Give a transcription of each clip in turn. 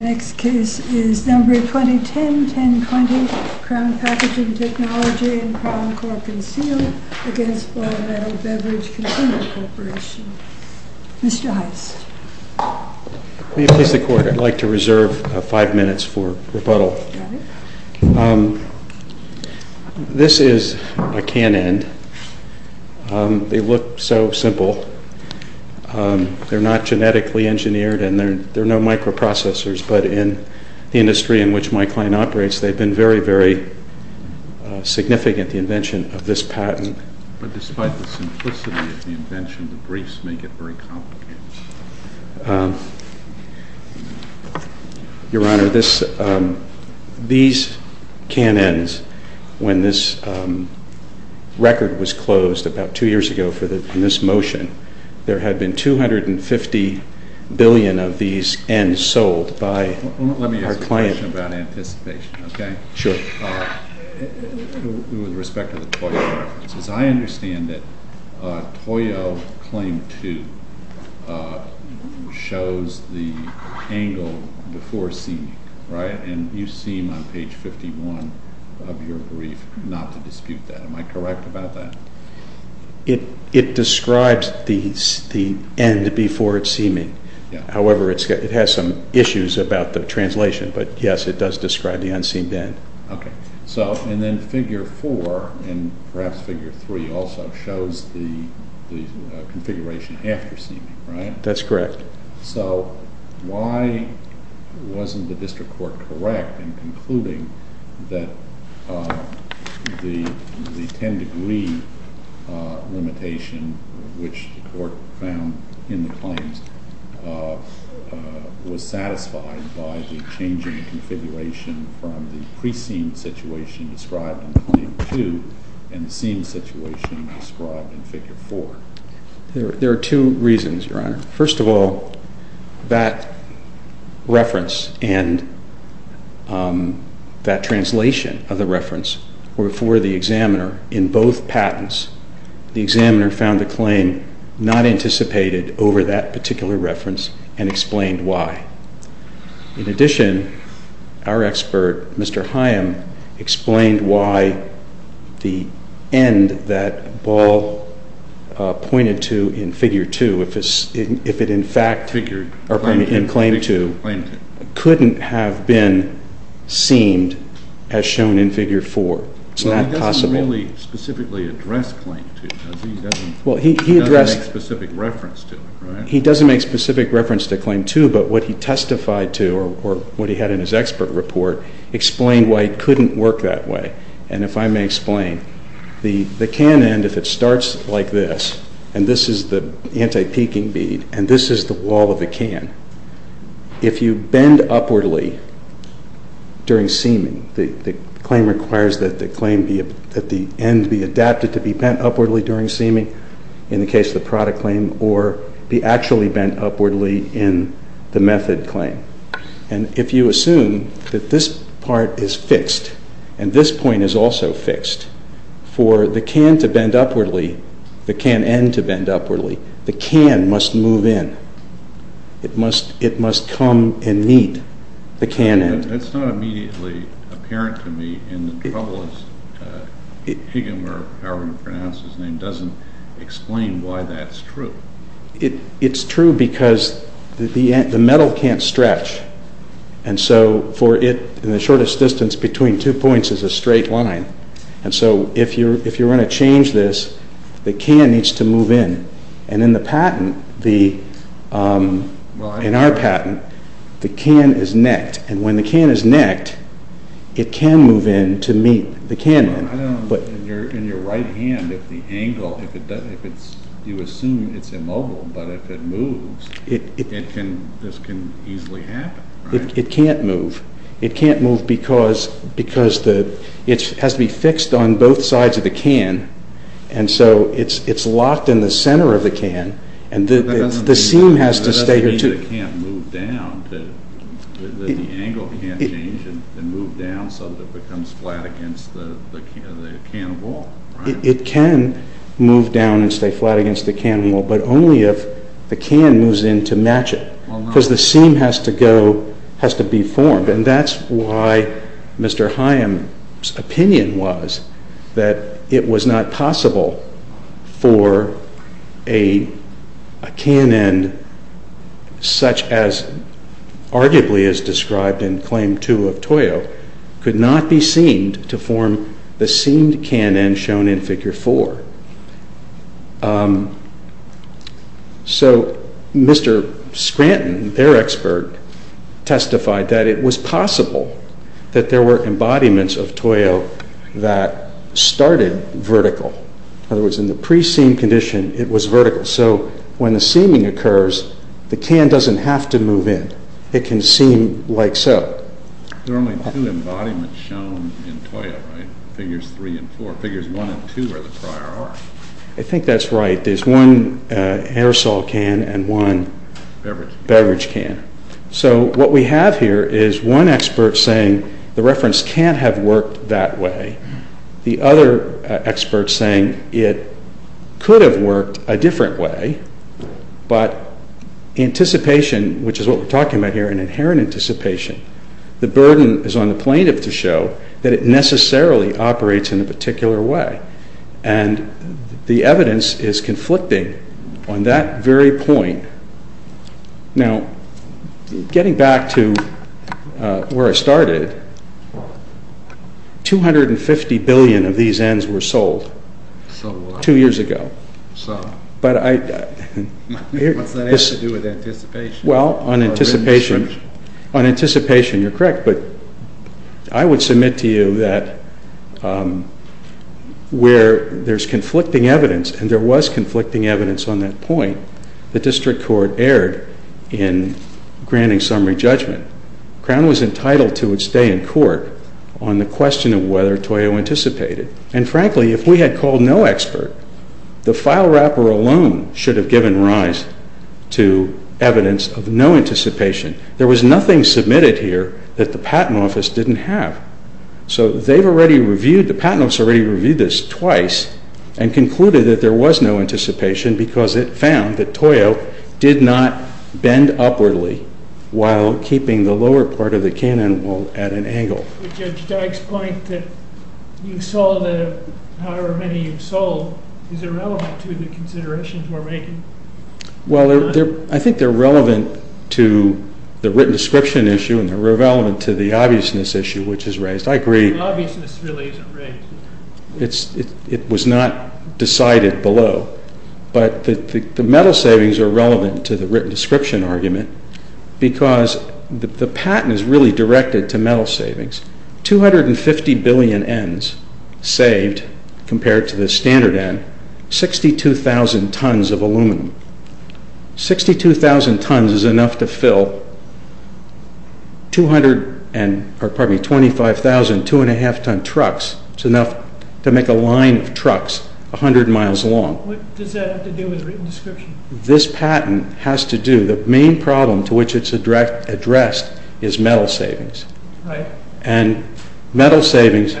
Next case is number 2010-1020, CROWN PACKAGING Technology and Crown Corp Concealed against Ball Metal Beverage Container Corporation. Mr. Heist. Will you please record? I'd like to reserve five minutes for rebuttal. Got it. This is a can-end. They look so simple. They're not genetically engineered and there are no microprocessors, but in the industry in which my client operates, they've been very, very significant, the invention of this patent. But despite the simplicity of the invention, the briefs make it very complicated. Your Honor, these can-ends, when this record was closed about two years ago for this motion, there had been $250 billion of these ends sold by our client. Let me ask a question about anticipation, okay? Sure. With respect to the Toyo references, I understand that Toyo Claim 2 shows the angle before seeming, right? And you seem on page 51 of your brief not to dispute that. Am I correct about that? It describes the end before it's seeming. However, it has some issues about the translation, but yes, it does describe the unseen end. Okay. So, and then Figure 4, and perhaps Figure 3 also, shows the configuration after seeming, right? That's correct. So, why wasn't the district court correct in concluding that the 10-degree limitation, which the court found in the claims, was satisfied by the change in the configuration from the pre-seem situation described in Claim 2 and the seem situation described in Figure 4? There are two reasons, Your Honor. First of all, that reference and that translation of the reference were for the examiner in both patents. The examiner found the claim not anticipated over that particular reference and explained why. In addition, our expert, Mr. Hyam, explained why the end that Ball pointed to in Figure 2, if it in fact, in Claim 2, couldn't have been seemed as shown in Figure 4. It's not possible. Well, he doesn't really specifically address Claim 2, does he? He doesn't make specific reference to it, right? But what he testified to, or what he had in his expert report, explained why it couldn't work that way. And if I may explain, the can end, if it starts like this, and this is the anti-peaking bead, and this is the wall of the can, if you bend upwardly during seeming, the claim requires that the end be adapted to be bent upwardly during seeming, in the case of the product claim, or be actually bent upwardly in the method claim. And if you assume that this part is fixed, and this point is also fixed, for the can to bend upwardly, the can end to bend upwardly, the can must move in. It must come and meet the can end. That's not immediately apparent to me, and the trouble is, Higgum, or however you pronounce his name, doesn't explain why that's true. It's true because the metal can't stretch, and so for it, in the shortest distance between two points is a straight line, and so if you're going to change this, the can needs to move in. And in the patent, in our patent, the can is necked, and when the can is necked, it can move in to meet the can end. I don't know, in your right hand, if the angle, if you assume it's immobile, but if it moves, this can easily happen. It can't move. It can't move because it has to be fixed on both sides of the can, and so it's locked in the center of the can, and the seam has to stay. That doesn't mean that it can't move down, that the angle can't change and move down so that it becomes flat against the can of wool. It can move down and stay flat against the can of wool, but only if the can moves in to match it, because the seam has to go, has to be formed, and that's why Mr. Hyam's opinion was that it was not possible for a can end, such as arguably as described in Claim 2 of Toyo, could not be seamed to form the seamed can end shown in Figure 4. So Mr. Scranton, their expert, testified that it was possible that there were embodiments of Toyo that started vertical. In other words, in the pre-seamed condition, it was vertical, so when the seaming occurs, the can doesn't have to move in. It can seam like so. There are only two embodiments shown in Toyo, right? Figures 3 and 4. Figures 1 and 2 are the prior art. I think that's right. There's one aerosol can and one beverage can. So what we have here is one expert saying the reference can't have worked that way. The other expert saying it could have worked a different way, but anticipation, which is what we're talking about here, an inherent anticipation, the burden is on the plaintiff to show that it necessarily operates in a particular way, and the evidence is conflicting on that very point. Now, getting back to where I started, 250 billion of these ends were sold two years ago. What's that have to do with anticipation? Well, on anticipation, you're correct, but I would submit to you that where there's conflicting evidence, and there was conflicting evidence on that point, the district court erred in granting summary judgment. Crown was entitled to its day in court on the question of whether Toyo anticipated. And frankly, if we had called no expert, the file wrapper alone should have given rise to evidence of no anticipation. There was nothing submitted here that the Patent Office didn't have. So they've already reviewed, the Patent Office already reviewed this twice and concluded that there was no anticipation because it found that Toyo did not bend upwardly while keeping the lower part of the cannon at an angle. But Judge Dyke's point that you sold however many you've sold, is it relevant to the considerations we're making? Well, I think they're relevant to the written description issue and they're relevant to the obviousness issue, which is raised. I agree. The obviousness really isn't raised. It was not decided below. But the metal savings are relevant to the written description argument because the patent is really directed to metal savings. 250 billion ends saved compared to the standard end, 62,000 tons of aluminum. 62,000 tons is enough to fill 25,000 2.5 ton trucks. It's enough to make a line of trucks 100 miles long. What does that have to do with written description? This patent has to do, the main problem to which it's addressed is metal savings. Right. And metal savings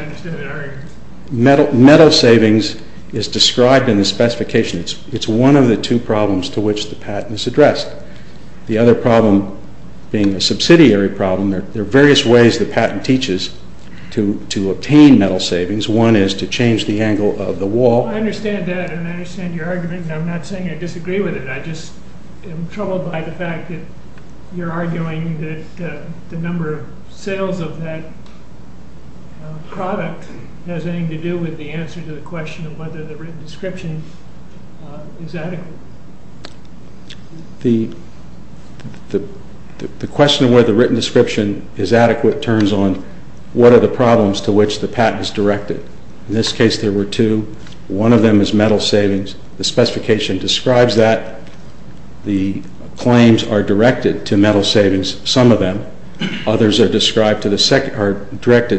is described in the specification. It's one of the two problems to which the patent is addressed. The other problem being the subsidiary problem, there are various ways the patent teaches to obtain metal savings. One is to change the angle of the wall. I understand that and I understand your argument and I'm not saying I disagree with it. I just am troubled by the fact that you're arguing that the number of sales of that product has anything to do with the answer to the question of whether the written description is adequate. The question of whether the written description is adequate turns on what are the problems to which the patent is directed. In this case, there were two. One of them is metal savings. The specification describes that. The claims are directed to metal savings, some of them. Others are directed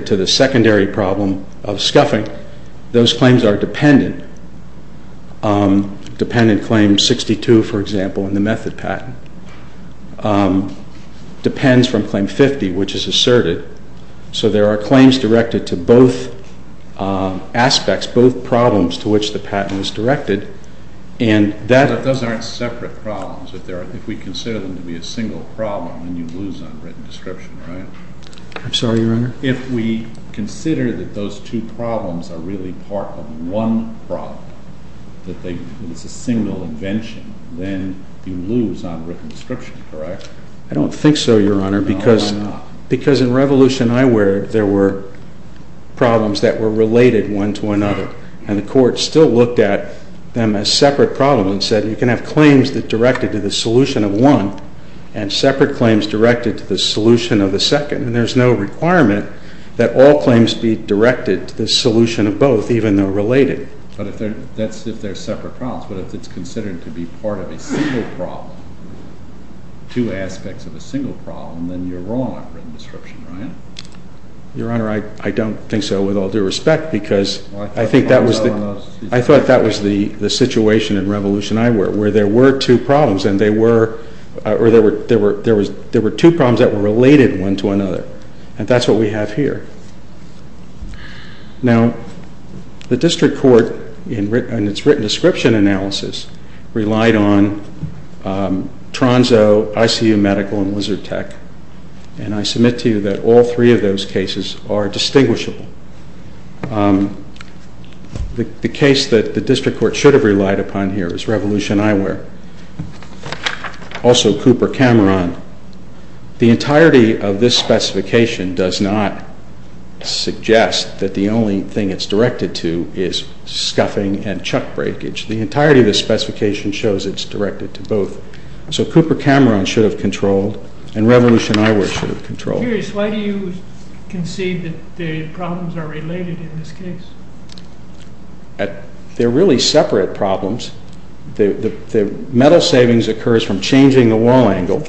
to the secondary problem of scuffing. Those claims are dependent. Dependent claim 62, for example, in the method patent, depends from claim 50, which is asserted. So there are claims directed to both aspects, both problems to which the patent is directed. Those aren't separate problems. If we consider them to be a single problem, then you lose on written description, right? I'm sorry, Your Honor. If we consider that those two problems are really part of one problem, that it's a single invention, then you lose on written description, correct? I don't think so, Your Honor. Why not? Because in Revolution Eyewear, there were problems that were related one to another, and the Court still looked at them as separate problems and said you can have claims that are directed to the solution of one and separate claims directed to the solution of the second, and there's no requirement that all claims be directed to the solution of both, even though related. But if they're separate problems, but if it's considered to be part of a single problem, two aspects of a single problem, then you're wrong on written description, right? Your Honor, I don't think so with all due respect because I think that was the situation in Revolution Eyewear where there were two problems and they were, or there were two problems that were related one to another, and that's what we have here. Now, the District Court, in its written description analysis, relied on Tronzo, ICU Medical, and Lizard Tech, and I submit to you that all three of those cases are distinguishable. The case that the District Court should have relied upon here is Revolution Eyewear, also Cooper Cameron. The entirety of this specification does not suggest that the only thing it's directed to is scuffing and chuck breakage. The entirety of this specification shows it's directed to both. So Cooper Cameron should have controlled and Revolution Eyewear should have controlled. Why do you concede that the problems are related in this case? They're really separate problems. The metal savings occurs from changing the wall angle,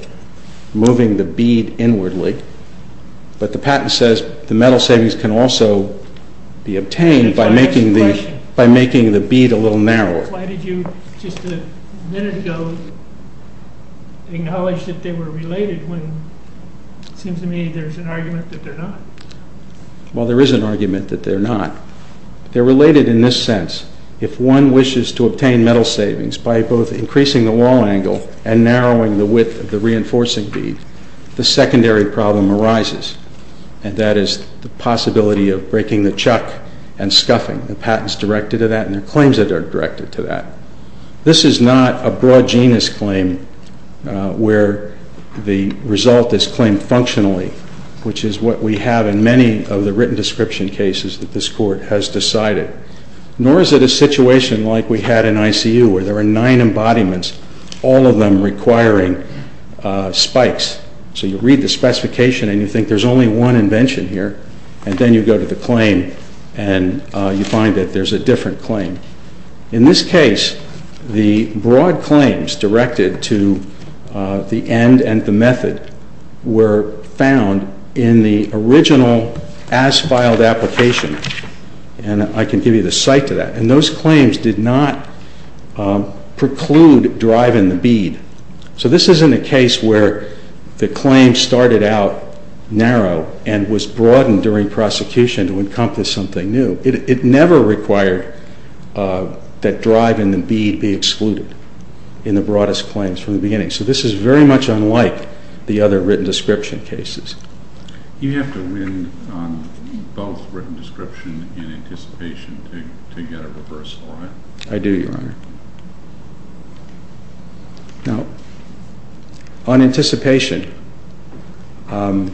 moving the bead inwardly, but the patent says the metal savings can also be obtained by making the bead a little narrower. Why did you just a minute ago acknowledge that they were related when it seems to me there's an argument that they're not? Well, there is an argument that they're not. They're related in this sense. If one wishes to obtain metal savings by both increasing the wall angle and narrowing the width of the reinforcing bead, the secondary problem arises, and that is the possibility of breaking the chuck and scuffing. The patent is directed to that and the claims are directed to that. This is not a broad genus claim where the result is claimed functionally, which is what we have in many of the written description cases that this Court has decided. Nor is it a situation like we had in ICU where there are nine embodiments, all of them requiring spikes. So you read the specification and you think there's only one invention here, and then you go to the claim and you find that there's a different claim. In this case, the broad claims directed to the end and the method were found in the original as-filed application. And I can give you the site to that. And those claims did not preclude driving the bead. So this isn't a case where the claim started out narrow and was broadened during prosecution to encompass something new. It never required that driving the bead be excluded in the broadest claims from the beginning. So this is very much unlike the other written description cases. You have to win on both written description and anticipation to get a reversal, right? Now, on anticipation, the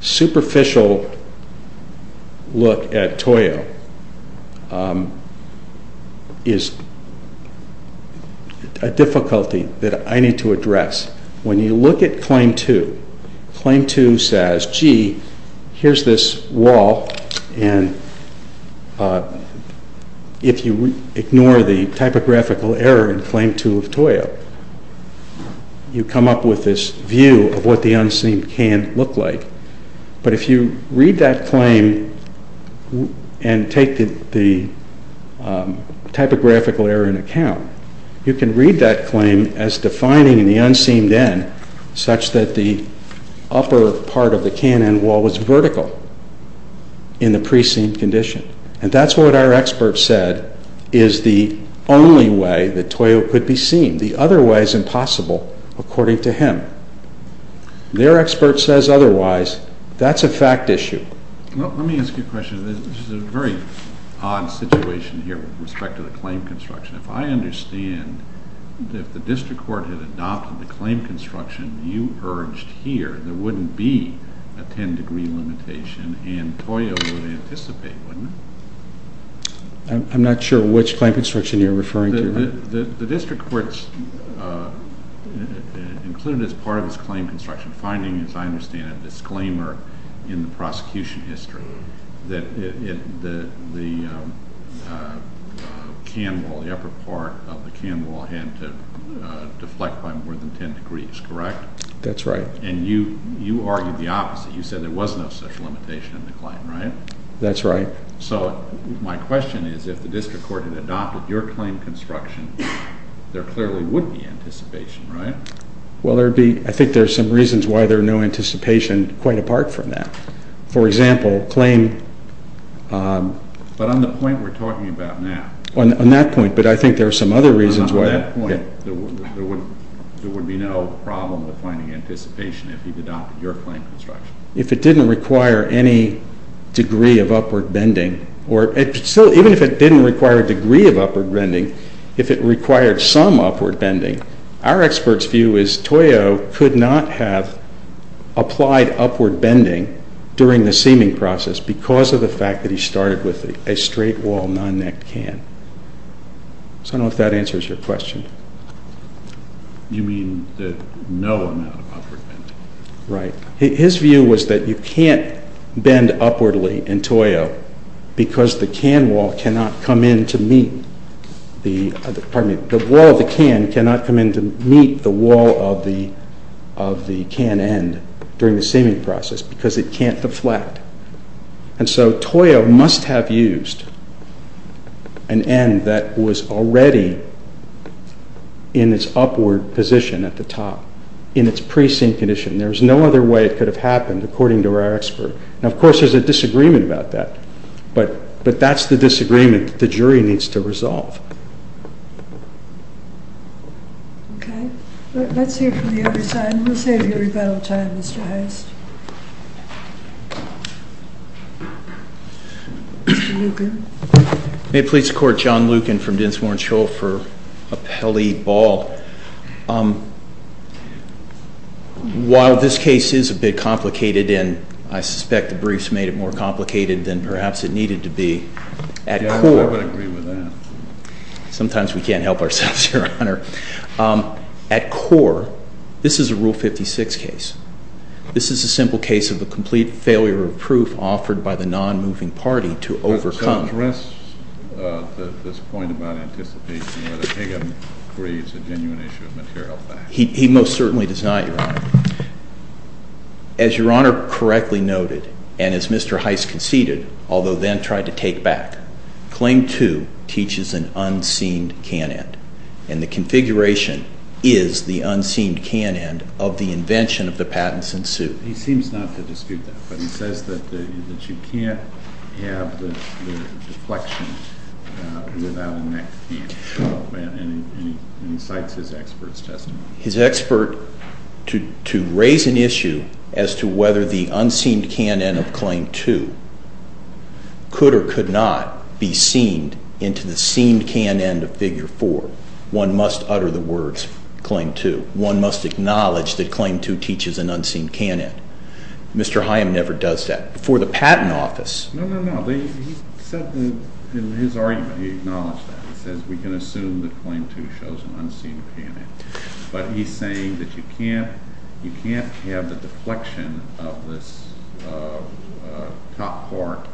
superficial look at Toyo is a difficulty that I need to address. When you look at Claim 2, Claim 2 says, gee, here's this wall, and if you ignore the typographical error in Claim 2 of Toyo, you come up with this view of what the unseen can look like. But if you read that claim and take the typographical error into account, you can read that claim as defining the unseen end such that the upper part of the K&N wall was vertical in the pre-seen condition. And that's what our expert said is the only way that Toyo could be seen. The other way is impossible, according to him. Their expert says otherwise. That's a fact issue. Let me ask you a question. This is a very odd situation here with respect to the claim construction. If I understand, if the district court had adopted the claim construction you urged here, there wouldn't be a 10-degree limitation, and Toyo would anticipate, wouldn't it? I'm not sure which claim construction you're referring to. The district court's included as part of this claim construction finding, as I understand it, in the prosecution history that the upper part of the K&N wall had to deflect by more than 10 degrees, correct? That's right. And you argued the opposite. You said there was no such limitation in the claim, right? That's right. So my question is if the district court had adopted your claim construction, there clearly would be anticipation, right? Well, I think there are some reasons why there's no anticipation quite apart from that. For example, claim— But on the point we're talking about now— On that point, but I think there are some other reasons why— On that point, there would be no problem with finding anticipation if you'd adopted your claim construction. If it didn't require any degree of upward bending, or even if it didn't require a degree of upward bending, if it required some upward bending, our expert's view is Toyo could not have applied upward bending during the seaming process because of the fact that he started with a straight wall, non-necked can. So I don't know if that answers your question. You mean that no amount of upward bending? Right. His view was that you can't bend upwardly in Toyo because the can wall cannot come in to meet the— Pardon me. The wall of the can cannot come in to meet the wall of the can end during the seaming process because it can't deflect. And so Toyo must have used an end that was already in its upward position at the top, in its precinct condition. There's no other way it could have happened, according to our expert. Now, of course, there's a disagreement about that, but that's the disagreement the jury needs to resolve. Okay. Let's hear from the other side. We'll save you rebuttal time, Mr. Hirst. Mr. Lucan. May it please the Court, John Lucan from Dinsmore & Scholl for Appelli Ball. While this case is a bit complicated, and I suspect the briefs made it more complicated than perhaps it needed to be, at core— Yeah, I would agree with that. Sometimes we can't help ourselves, Your Honor. At core, this is a Rule 56 case. This is a simple case of a complete failure of proof offered by the non-moving party to overcome— I don't address this point about anticipating whether Higgins agrees a genuine issue of material facts. He most certainly does not, Your Honor. As Your Honor correctly noted, and as Mr. Heist conceded, although then tried to take back, Claim 2 teaches an unseen can-end. And the configuration is the unseen can-end of the invention of the patents in suit. He seems not to dispute that, but he says that you can't have the deflection without a next can, and he cites his expert's testimony. His expert, to raise an issue as to whether the unseen can-end of Claim 2 could or could not be seen into the seen can-end of Figure 4, one must utter the words, Claim 2. One must acknowledge that Claim 2 teaches an unseen can-end. Mr. Higham never does that. Before the Patent Office— No, no, no. He said in his argument, he acknowledged that. He says we can assume that Claim 2 shows an unseen can-end. But he's saying that you can't have the deflection of this top part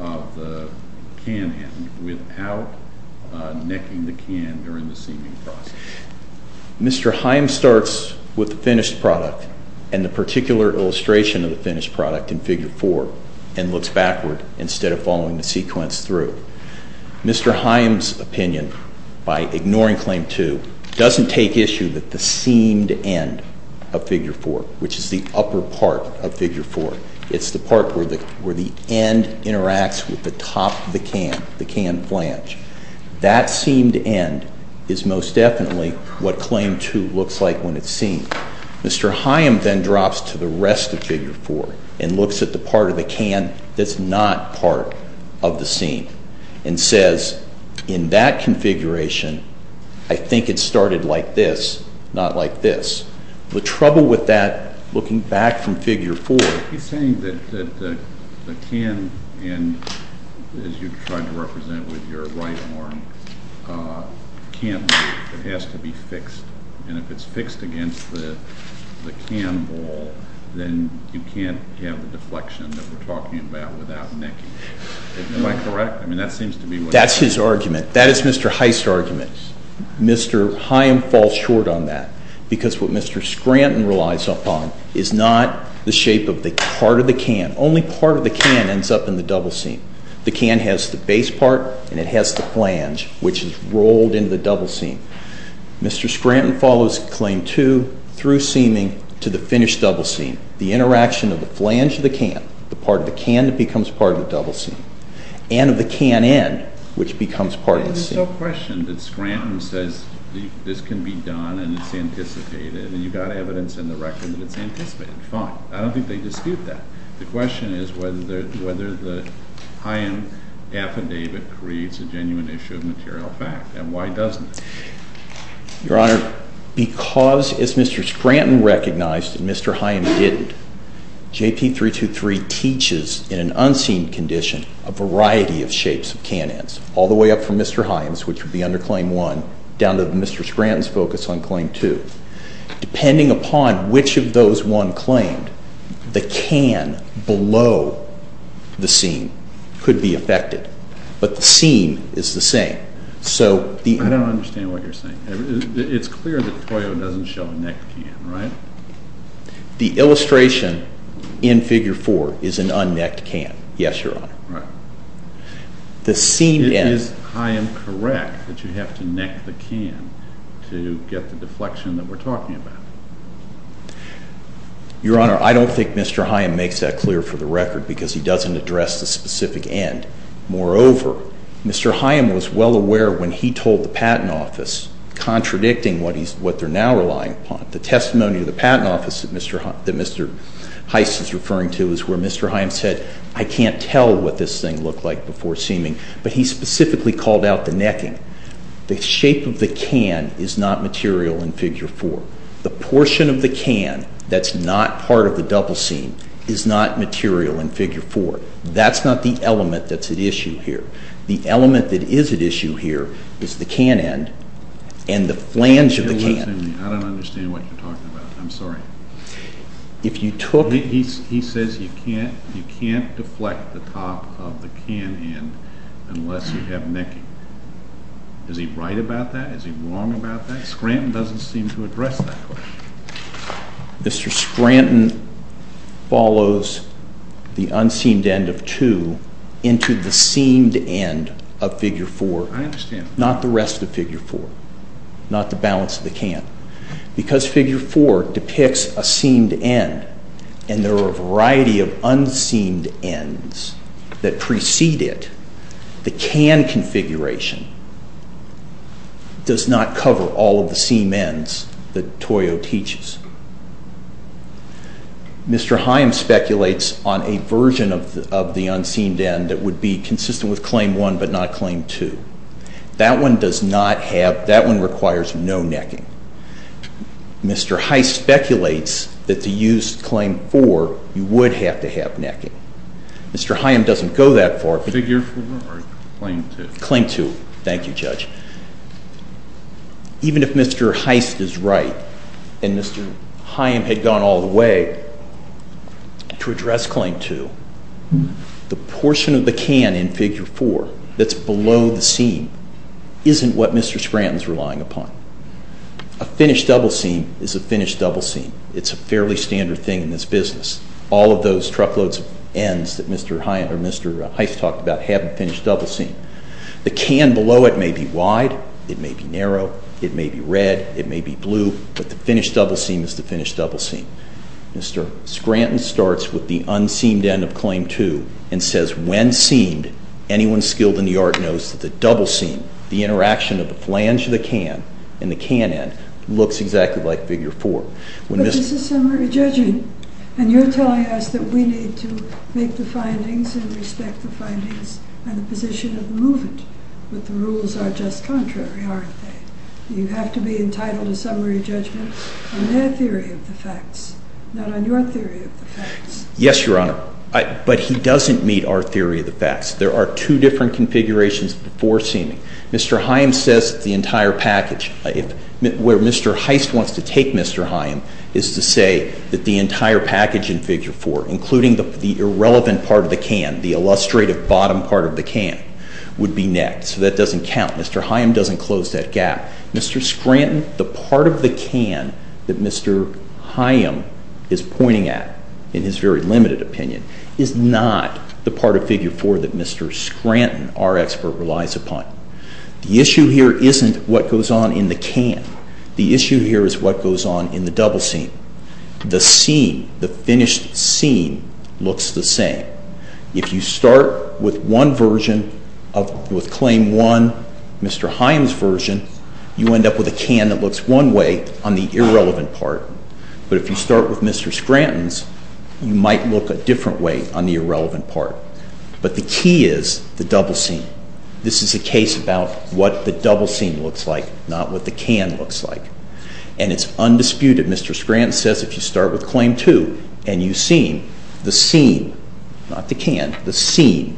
of the can-end without necking the can during the seeming process. Mr. Higham starts with the finished product and the particular illustration of the finished product in Figure 4 and looks backward instead of following the sequence through. Mr. Higham's opinion, by ignoring Claim 2, doesn't take issue with the seamed end of Figure 4, which is the upper part of Figure 4. It's the part where the end interacts with the top of the can, the can flange. That seamed end is most definitely what Claim 2 looks like when it's seen. Mr. Higham then drops to the rest of Figure 4 and looks at the part of the can that's not part of the seam and says, in that configuration, I think it started like this, not like this. The trouble with that, looking back from Figure 4— He's saying that the can-end, as you tried to represent with your right arm, can't move. It has to be fixed. If it's fixed against the can wall, then you can't have the deflection that we're talking about without necking. Am I correct? That's his argument. That is Mr. Heist's argument. Mr. Higham falls short on that because what Mr. Scranton relies upon is not the shape of the part of the can. Only part of the can ends up in the double seam. The can has the base part and it has the flange, which is rolled into the double seam. Mr. Scranton follows Claim 2 through seaming to the finished double seam. The interaction of the flange of the can, the part of the can that becomes part of the double seam, and of the can-end, which becomes part of the seam. There's no question that Scranton says this can be done and it's anticipated, and you've got evidence in the record that it's anticipated. Fine. I don't think they dispute that. The question is whether the Higham affidavit creates a genuine issue of material fact, and why doesn't it? Your Honor, because, as Mr. Scranton recognized and Mr. Higham didn't, JP 323 teaches in an unseen condition a variety of shapes of can ends, all the way up from Mr. Higham's, which would be under Claim 1, down to Mr. Scranton's focus on Claim 2. Depending upon which of those one claimed, the can below the seam could be affected, but the seam is the same. I don't understand what you're saying. It's clear that Toyo doesn't show a necked can, right? The illustration in Figure 4 is an unnecked can, yes, Your Honor. It is Higham correct that you have to neck the can to get the deflection that we're talking about? Your Honor, I don't think Mr. Higham makes that clear for the record because he doesn't address the specific end. Moreover, Mr. Higham was well aware when he told the Patent Office, contradicting what they're now relying upon, the testimony of the Patent Office that Mr. Heiss is referring to is where Mr. Higham said, I can't tell what this thing looked like before seaming, but he specifically called out the necking. The shape of the can is not material in Figure 4. The portion of the can that's not part of the double seam is not material in Figure 4. That's not the element that's at issue here. The element that is at issue here is the can end and the flange of the can. I don't understand what you're talking about. I'm sorry. He says you can't deflect the top of the can end unless you have necking. Is he right about that? Is he wrong about that? Scranton doesn't seem to address that question. Mr. Scranton follows the unseamed end of 2 into the seamed end of Figure 4. I understand. Not the rest of Figure 4. Not the balance of the can. Because Figure 4 depicts a seamed end and there are a variety of unseamed ends that precede it, the can configuration does not cover all of the seamed ends that Toyo teaches. Mr. Heim speculates on a version of the unseamed end that would be consistent with Claim 1 but not Claim 2. That one requires no necking. Mr. Heist speculates that to use Claim 4 you would have to have necking. Mr. Heim doesn't go that far. Figure 4 or Claim 2? Claim 2. Thank you, Judge. Even if Mr. Heist is right and Mr. Heim had gone all the way to address Claim 2, the portion of the can in Figure 4 that's below the seam isn't what Mr. Scranton is relying upon. A finished double seam is a finished double seam. It's a fairly standard thing in this business. All of those truckloads of ends that Mr. Heist talked about have a finished double seam. The can below it may be wide, it may be narrow, it may be red, it may be blue, but the finished double seam is the finished double seam. Mr. Scranton starts with the unseamed end of Claim 2 and says, when seamed, anyone skilled in the art knows that the double seam, the interaction of the flange of the can and the can end, looks exactly like Figure 4. But this is summary judgment, and you're telling us that we need to make the findings and respect the findings and the position of movement, but the rules are just contrary, aren't they? You have to be entitled to summary judgment on their theory of the facts, not on your theory of the facts. Yes, Your Honor, but he doesn't meet our theory of the facts. There are two different configurations before seaming. Mr. Heist wants to take Mr. Haim is to say that the entire package in Figure 4, including the irrelevant part of the can, the illustrative bottom part of the can, would be next. So that doesn't count. Mr. Haim doesn't close that gap. Mr. Scranton, the part of the can that Mr. Haim is pointing at in his very limited opinion is not the part of Figure 4 that Mr. Scranton, our expert, relies upon. The issue here isn't what goes on in the can. The issue here is what goes on in the double seam. The seam, the finished seam, looks the same. If you start with one version, with Claim 1, Mr. Haim's version, you end up with a can that looks one way on the irrelevant part. But if you start with Mr. Scranton's, you might look a different way on the irrelevant part. But the key is the double seam. This is a case about what the double seam looks like, not what the can looks like. And it's undisputed, Mr. Scranton says, if you start with Claim 2 and you seam, the seam, not the can, the seam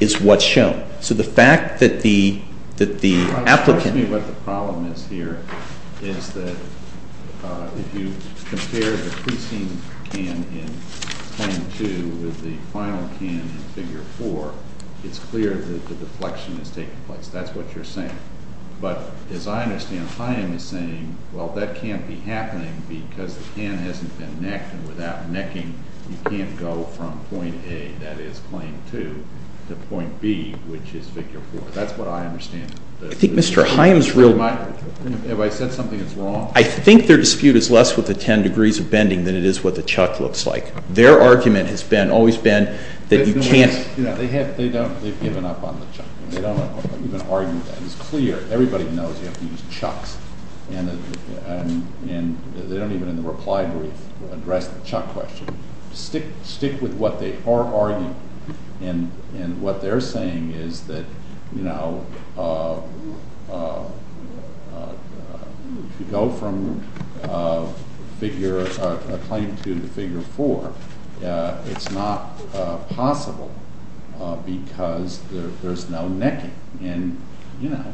is what's shown. So the fact that the applicant... What the problem is here is that if you compare the pre-seam can in Claim 2 with the final can in Figure 4, it's clear that the deflection is taking place. That's what you're saying. But as I understand, Haim is saying, well, that can't be happening because the can hasn't been necked, and without necking, you can't go from Point A, that is, Claim 2, to Point B, which is Figure 4. That's what I understand. I think Mr. Haim's real... Have I said something that's wrong? I think their dispute is less with the ten degrees of bending than it is what the chuck looks like. Their argument has always been that you can't... They've given up on the chuck. They don't even argue that. It's clear. Everybody knows you have to use chucks. And they don't even, in the reply brief, address the chuck question. Stick with what they are arguing. And what they're saying is that, you know, if you go from Claim 2 to Figure 4, it's not possible because there's no necking. And, you know,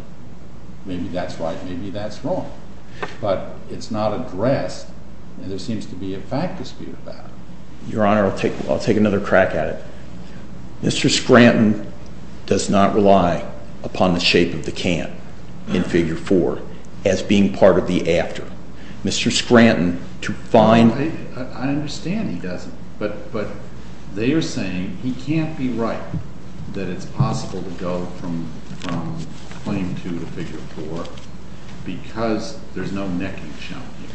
maybe that's right. Maybe that's wrong. But it's not addressed, and there seems to be a fact dispute about it. Your Honor, I'll take another crack at it. Mr. Scranton does not rely upon the shape of the can in Figure 4 as being part of the after. Mr. Scranton, to find... I understand he doesn't. But they are saying he can't be right, that it's possible to go from Claim 2 to Figure 4 because there's no necking shown here.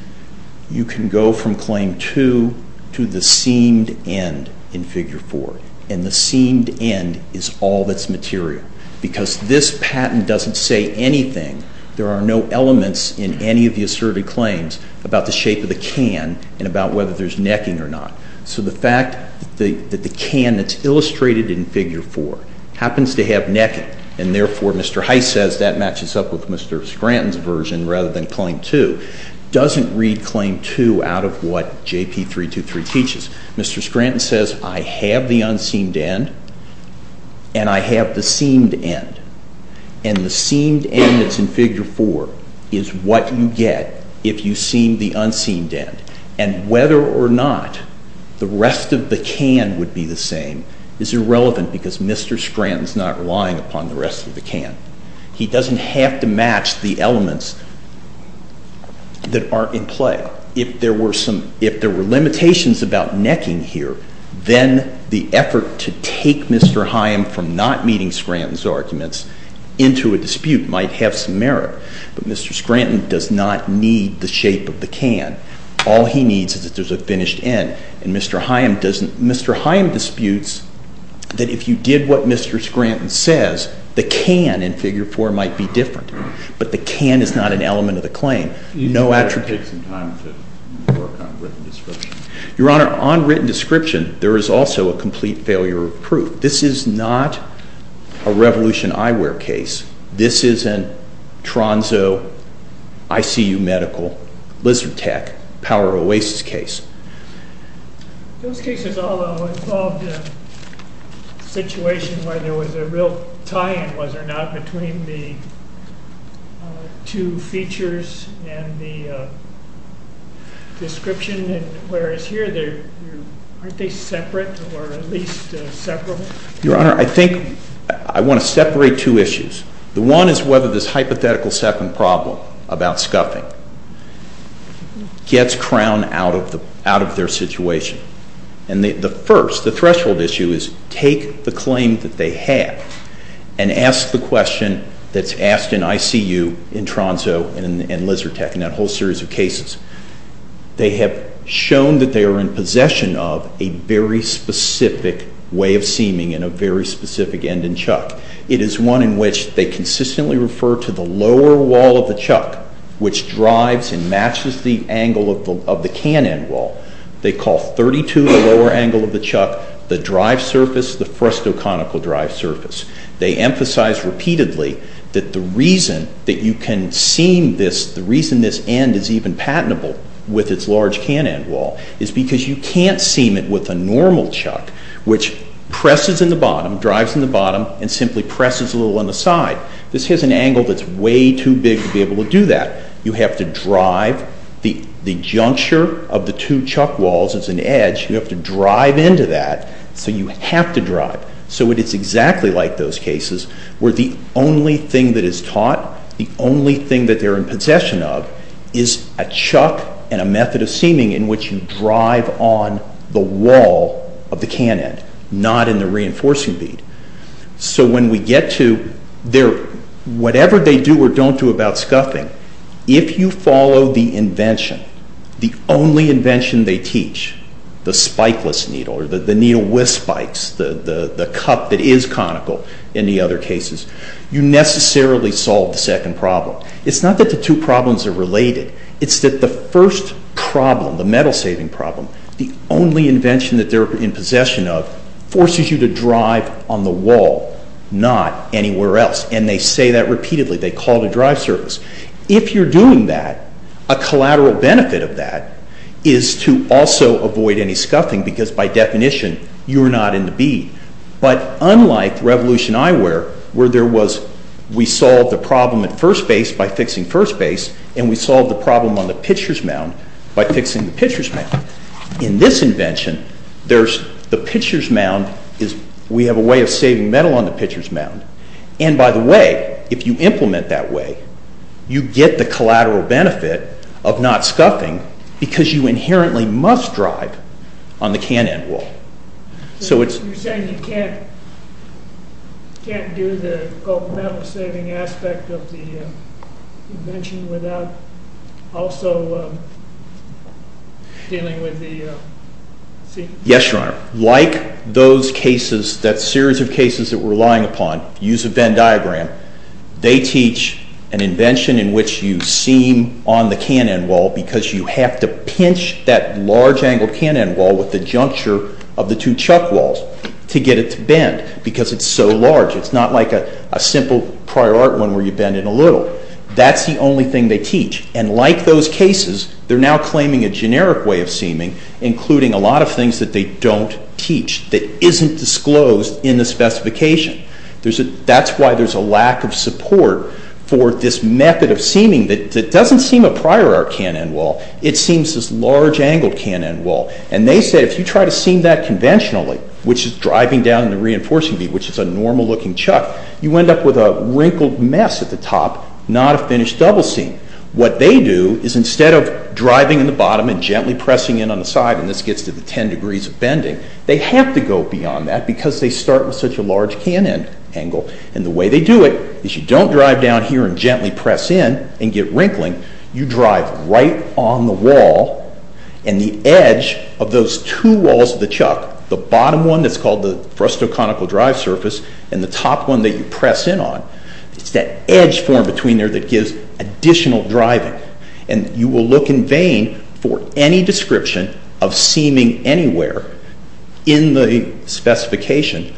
You can go from Claim 2 to the seamed end in Figure 4. And the seamed end is all that's material. Because this patent doesn't say anything. There are no elements in any of the asserted claims about the shape of the can and about whether there's necking or not. So the fact that the can that's illustrated in Figure 4 happens to have necking, and therefore Mr. Heiss says that matches up with Mr. Scranton's version rather than Claim 2, doesn't read Claim 2 out of what JP 323 teaches. Mr. Scranton says, I have the unseamed end, and I have the seamed end. And the seamed end that's in Figure 4 is what you get if you seam the unseamed end. And whether or not the rest of the can would be the same is irrelevant because Mr. Scranton's not relying upon the rest of the can. He doesn't have to match the elements that are in play. If there were limitations about necking here, then the effort to take Mr. Haim from not meeting Scranton's arguments into a dispute might have some merit. But Mr. Scranton does not need the shape of the can. All he needs is that there's a finished end. And Mr. Haim disputes that if you did what Mr. Scranton says, the can in Figure 4 might be different. But the can is not an element of the claim. You should take some time to work on written description. Your Honor, on written description, there is also a complete failure of proof. This is not a Revolution Eyewear case. This is a Tronzo ICU medical lizard tech power oasis case. Those cases all involved a situation where there was a real tie-in, was there not, between the two features and the description? And whereas here, aren't they separate or at least separable? Your Honor, I think I want to separate two issues. The one is whether this hypothetical second problem about scuffing gets crowned out of their situation. And the first, the threshold issue, is take the claim that they have and ask the question that's asked in ICU in Tronzo and Lizard Tech in that whole series of cases. They have shown that they are in possession of a very specific way of seaming and a very specific end and chuck. It is one in which they consistently refer to the lower wall of the chuck, which drives and matches the angle of the can end wall. They call 32 the lower angle of the chuck, the drive surface the frustoconical drive surface. They emphasize repeatedly that the reason that you can seam this, the reason this end is even patentable with its large can end wall is because you can't seam it with a normal chuck, which presses in the bottom, drives in the bottom, and simply presses a little on the side. This has an angle that's way too big to be able to do that. You have to drive. The juncture of the two chuck walls is an edge. You have to drive into that, so you have to drive. So it is exactly like those cases where the only thing that is taught, the only thing that they're in possession of, is a chuck and a method of seaming in which you drive on the wall of the can end, not in the reinforcing bead. So when we get to whatever they do or don't do about scuffing, if you follow the invention, the only invention they teach, the spikeless needle or the needle with spikes, the cup that is conical in the other cases, you necessarily solve the second problem. It's not that the two problems are related. It's that the first problem, the metal saving problem, the only invention that they're in possession of, forces you to drive on the wall, not anywhere else, and they say that repeatedly. They call it a drive service. If you're doing that, a collateral benefit of that is to also avoid any scuffing because by definition you're not in the bead. But unlike Revolution Eyewear, where we solved the problem at first base by fixing first base, and we solved the problem on the pitcher's mound by fixing the pitcher's mound. In this invention, we have a way of saving metal on the pitcher's mound, and by the way, if you implement that way, you get the collateral benefit of not scuffing because you inherently must drive on the can end wall. You're saying you can't do the gold metal saving aspect of the invention without also dealing with the seam? Yes, Your Honor. Like those cases, that series of cases that we're relying upon, use a Venn diagram, they teach an invention in which you seam on the can end wall because you have to pinch that large angled can end wall with the juncture of the two chuck walls to get it to bend because it's so large. It's not like a simple prior art one where you bend it a little. That's the only thing they teach, and like those cases, they're now claiming a generic way of seaming, including a lot of things that they don't teach, that isn't disclosed in the specification. That's why there's a lack of support for this method of seaming that doesn't seam a prior art can end wall. It seams this large angled can end wall, and they say if you try to seam that conventionally, which is driving down the reinforcing bead, which is a normal looking chuck, you end up with a wrinkled mess at the top, not a finished double seam. What they do is instead of driving in the bottom and gently pressing in on the side, and this gets to the ten degrees of bending, they have to go beyond that because they start with such a large can end angle, and the way they do it is you don't drive down here and gently press in and get wrinkling. You drive right on the wall, and the edge of those two walls of the chuck, the bottom one that's called the frustoconical drive surface, and the top one that you press in on, it's that edge form between there that gives additional driving, and you will look in vain for any description of seaming anywhere in the specification,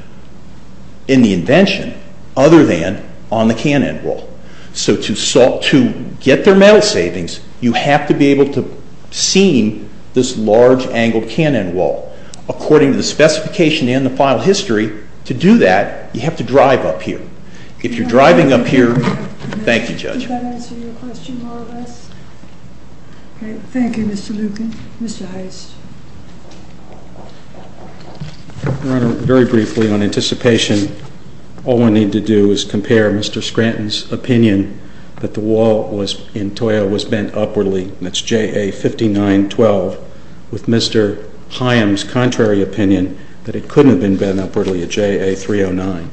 in the invention, other than on the can end wall. So to get their metal savings, you have to be able to seam this large angled can end wall. According to the specification and the file history, to do that, you have to drive up here. If you're driving up here... Thank you, Judge. Does that answer your question more or less? Okay. Thank you, Mr. Lucan. Mr. Heist. Your Honor, very briefly on anticipation, all we need to do is compare Mr. Scranton's opinion that the wall in Toyo was bent upwardly, that's JA 59-12, with Mr. Higham's contrary opinion that it couldn't have been bent upwardly at JA 309.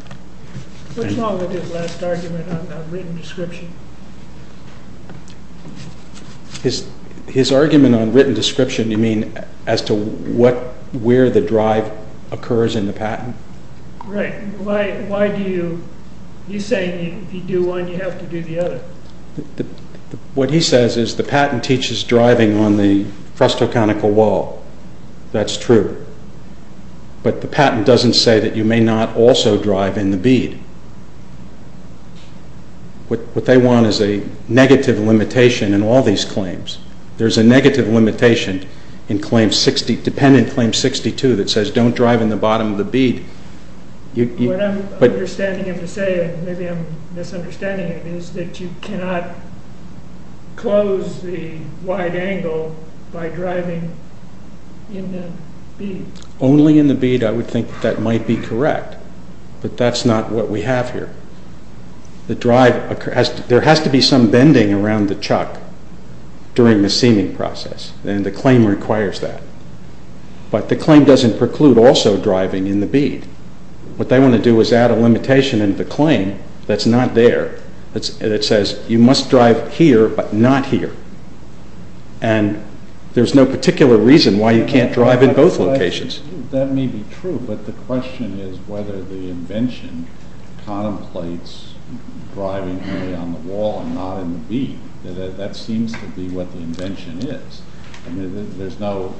What's wrong with his last argument on written description? His argument on written description, you mean as to where the drive occurs in the patent? Right. Why do you... He's saying if you do one, you have to do the other. What he says is the patent teaches driving on the crustal conical wall. That's true. But the patent doesn't say that you may not also drive in the bead. What they want is a negative limitation in all these claims. There's a negative limitation in claim 60, dependent claim 62, that says don't drive in the bottom of the bead. What I'm understanding him to say, and maybe I'm misunderstanding it, is that you cannot close the wide angle by driving in the bead. Only in the bead, I would think that might be correct. But that's not what we have here. There has to be some bending around the chuck during the seaming process, and the claim requires that. But the claim doesn't preclude also driving in the bead. What they want to do is add a limitation in the claim that's not there, that says you must drive here, but not here. And there's no particular reason why you can't drive in both locations. That may be true, but the question is whether the invention contemplates driving on the wall and not in the bead. That seems to be what the invention is. There's no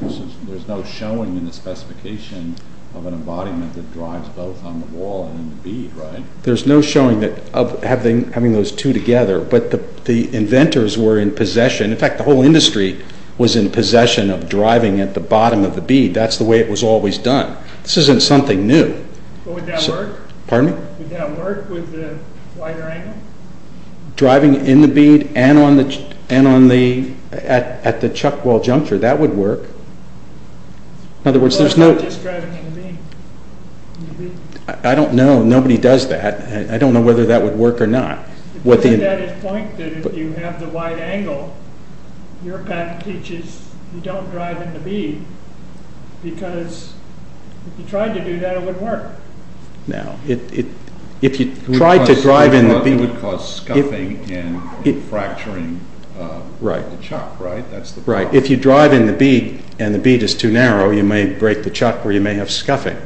showing in the specification of an embodiment that drives both on the wall and in the bead, right? There's no showing of having those two together, but the inventors were in possession, in fact the whole industry was in possession of driving at the bottom of the bead. That's the way it was always done. This isn't something new. Would that work with the wider angle? Driving in the bead and at the chuck wall juncture, that would work. I don't know. Nobody does that. I don't know whether that would work or not. If you have the wide angle, your patent teaches you don't drive in the bead because if you tried to do that, it would work. Now, if you tried to drive in the bead... Right. If you drive in the bead and the bead is too narrow, you may break the chuck or you may have scuffing,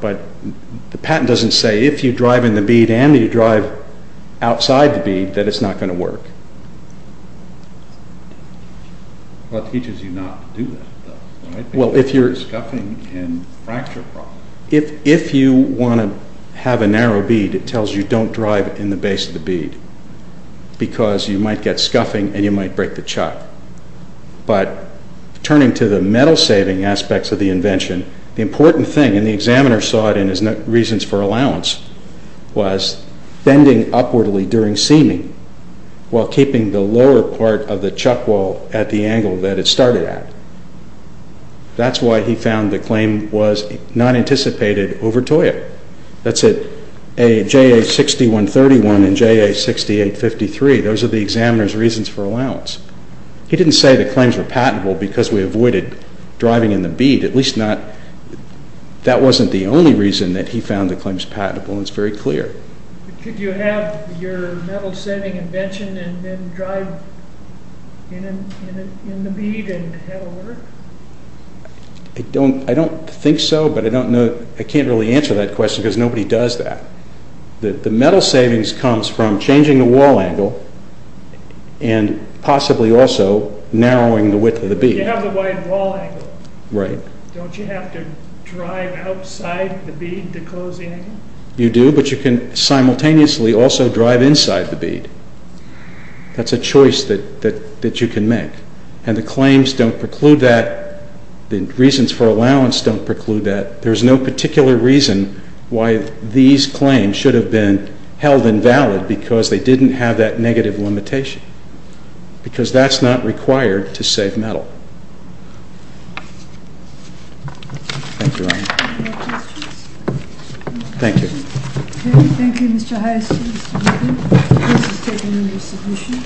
but the patent doesn't say if you drive in the bead and you drive outside the bead, that it's not going to work. If you want to have a narrow bead, it tells you don't drive in the base of the bead because you might get scuffing and you might break the chuck. But turning to the metal-saving aspects of the invention, the important thing, and the examiner saw it in his reasons for allowance, was bending upwardly during seaming while keeping the lower part of the chuck wall at the angle that it started at. That's why he found the claim was not anticipated over TOIA. That's at JA6131 and JA6853. Those are the examiner's reasons for allowance. He didn't say the claims were patentable because we avoided driving in the bead. At least not... That wasn't the only reason that he found the claims patentable, and it's very clear. Could you have your metal-saving invention and then drive in the bead and have it work? I don't think so, but I don't know... I can't really answer that question because nobody does that. The metal savings comes from changing the wall angle and possibly also narrowing the width of the bead. But you have the wide wall angle. Right. Don't you have to drive outside the bead to close the angle? You do, but you can simultaneously also drive inside the bead. That's a choice that you can make. And the claims don't preclude that. The reasons for allowance don't preclude that. There's no particular reason why these claims should have been held invalid because they didn't have that negative limitation because that's not required to save metal. Thank you, Your Honor. Thank you. Okay. Thank you, Mr. Hyacinth. This is taken under submission.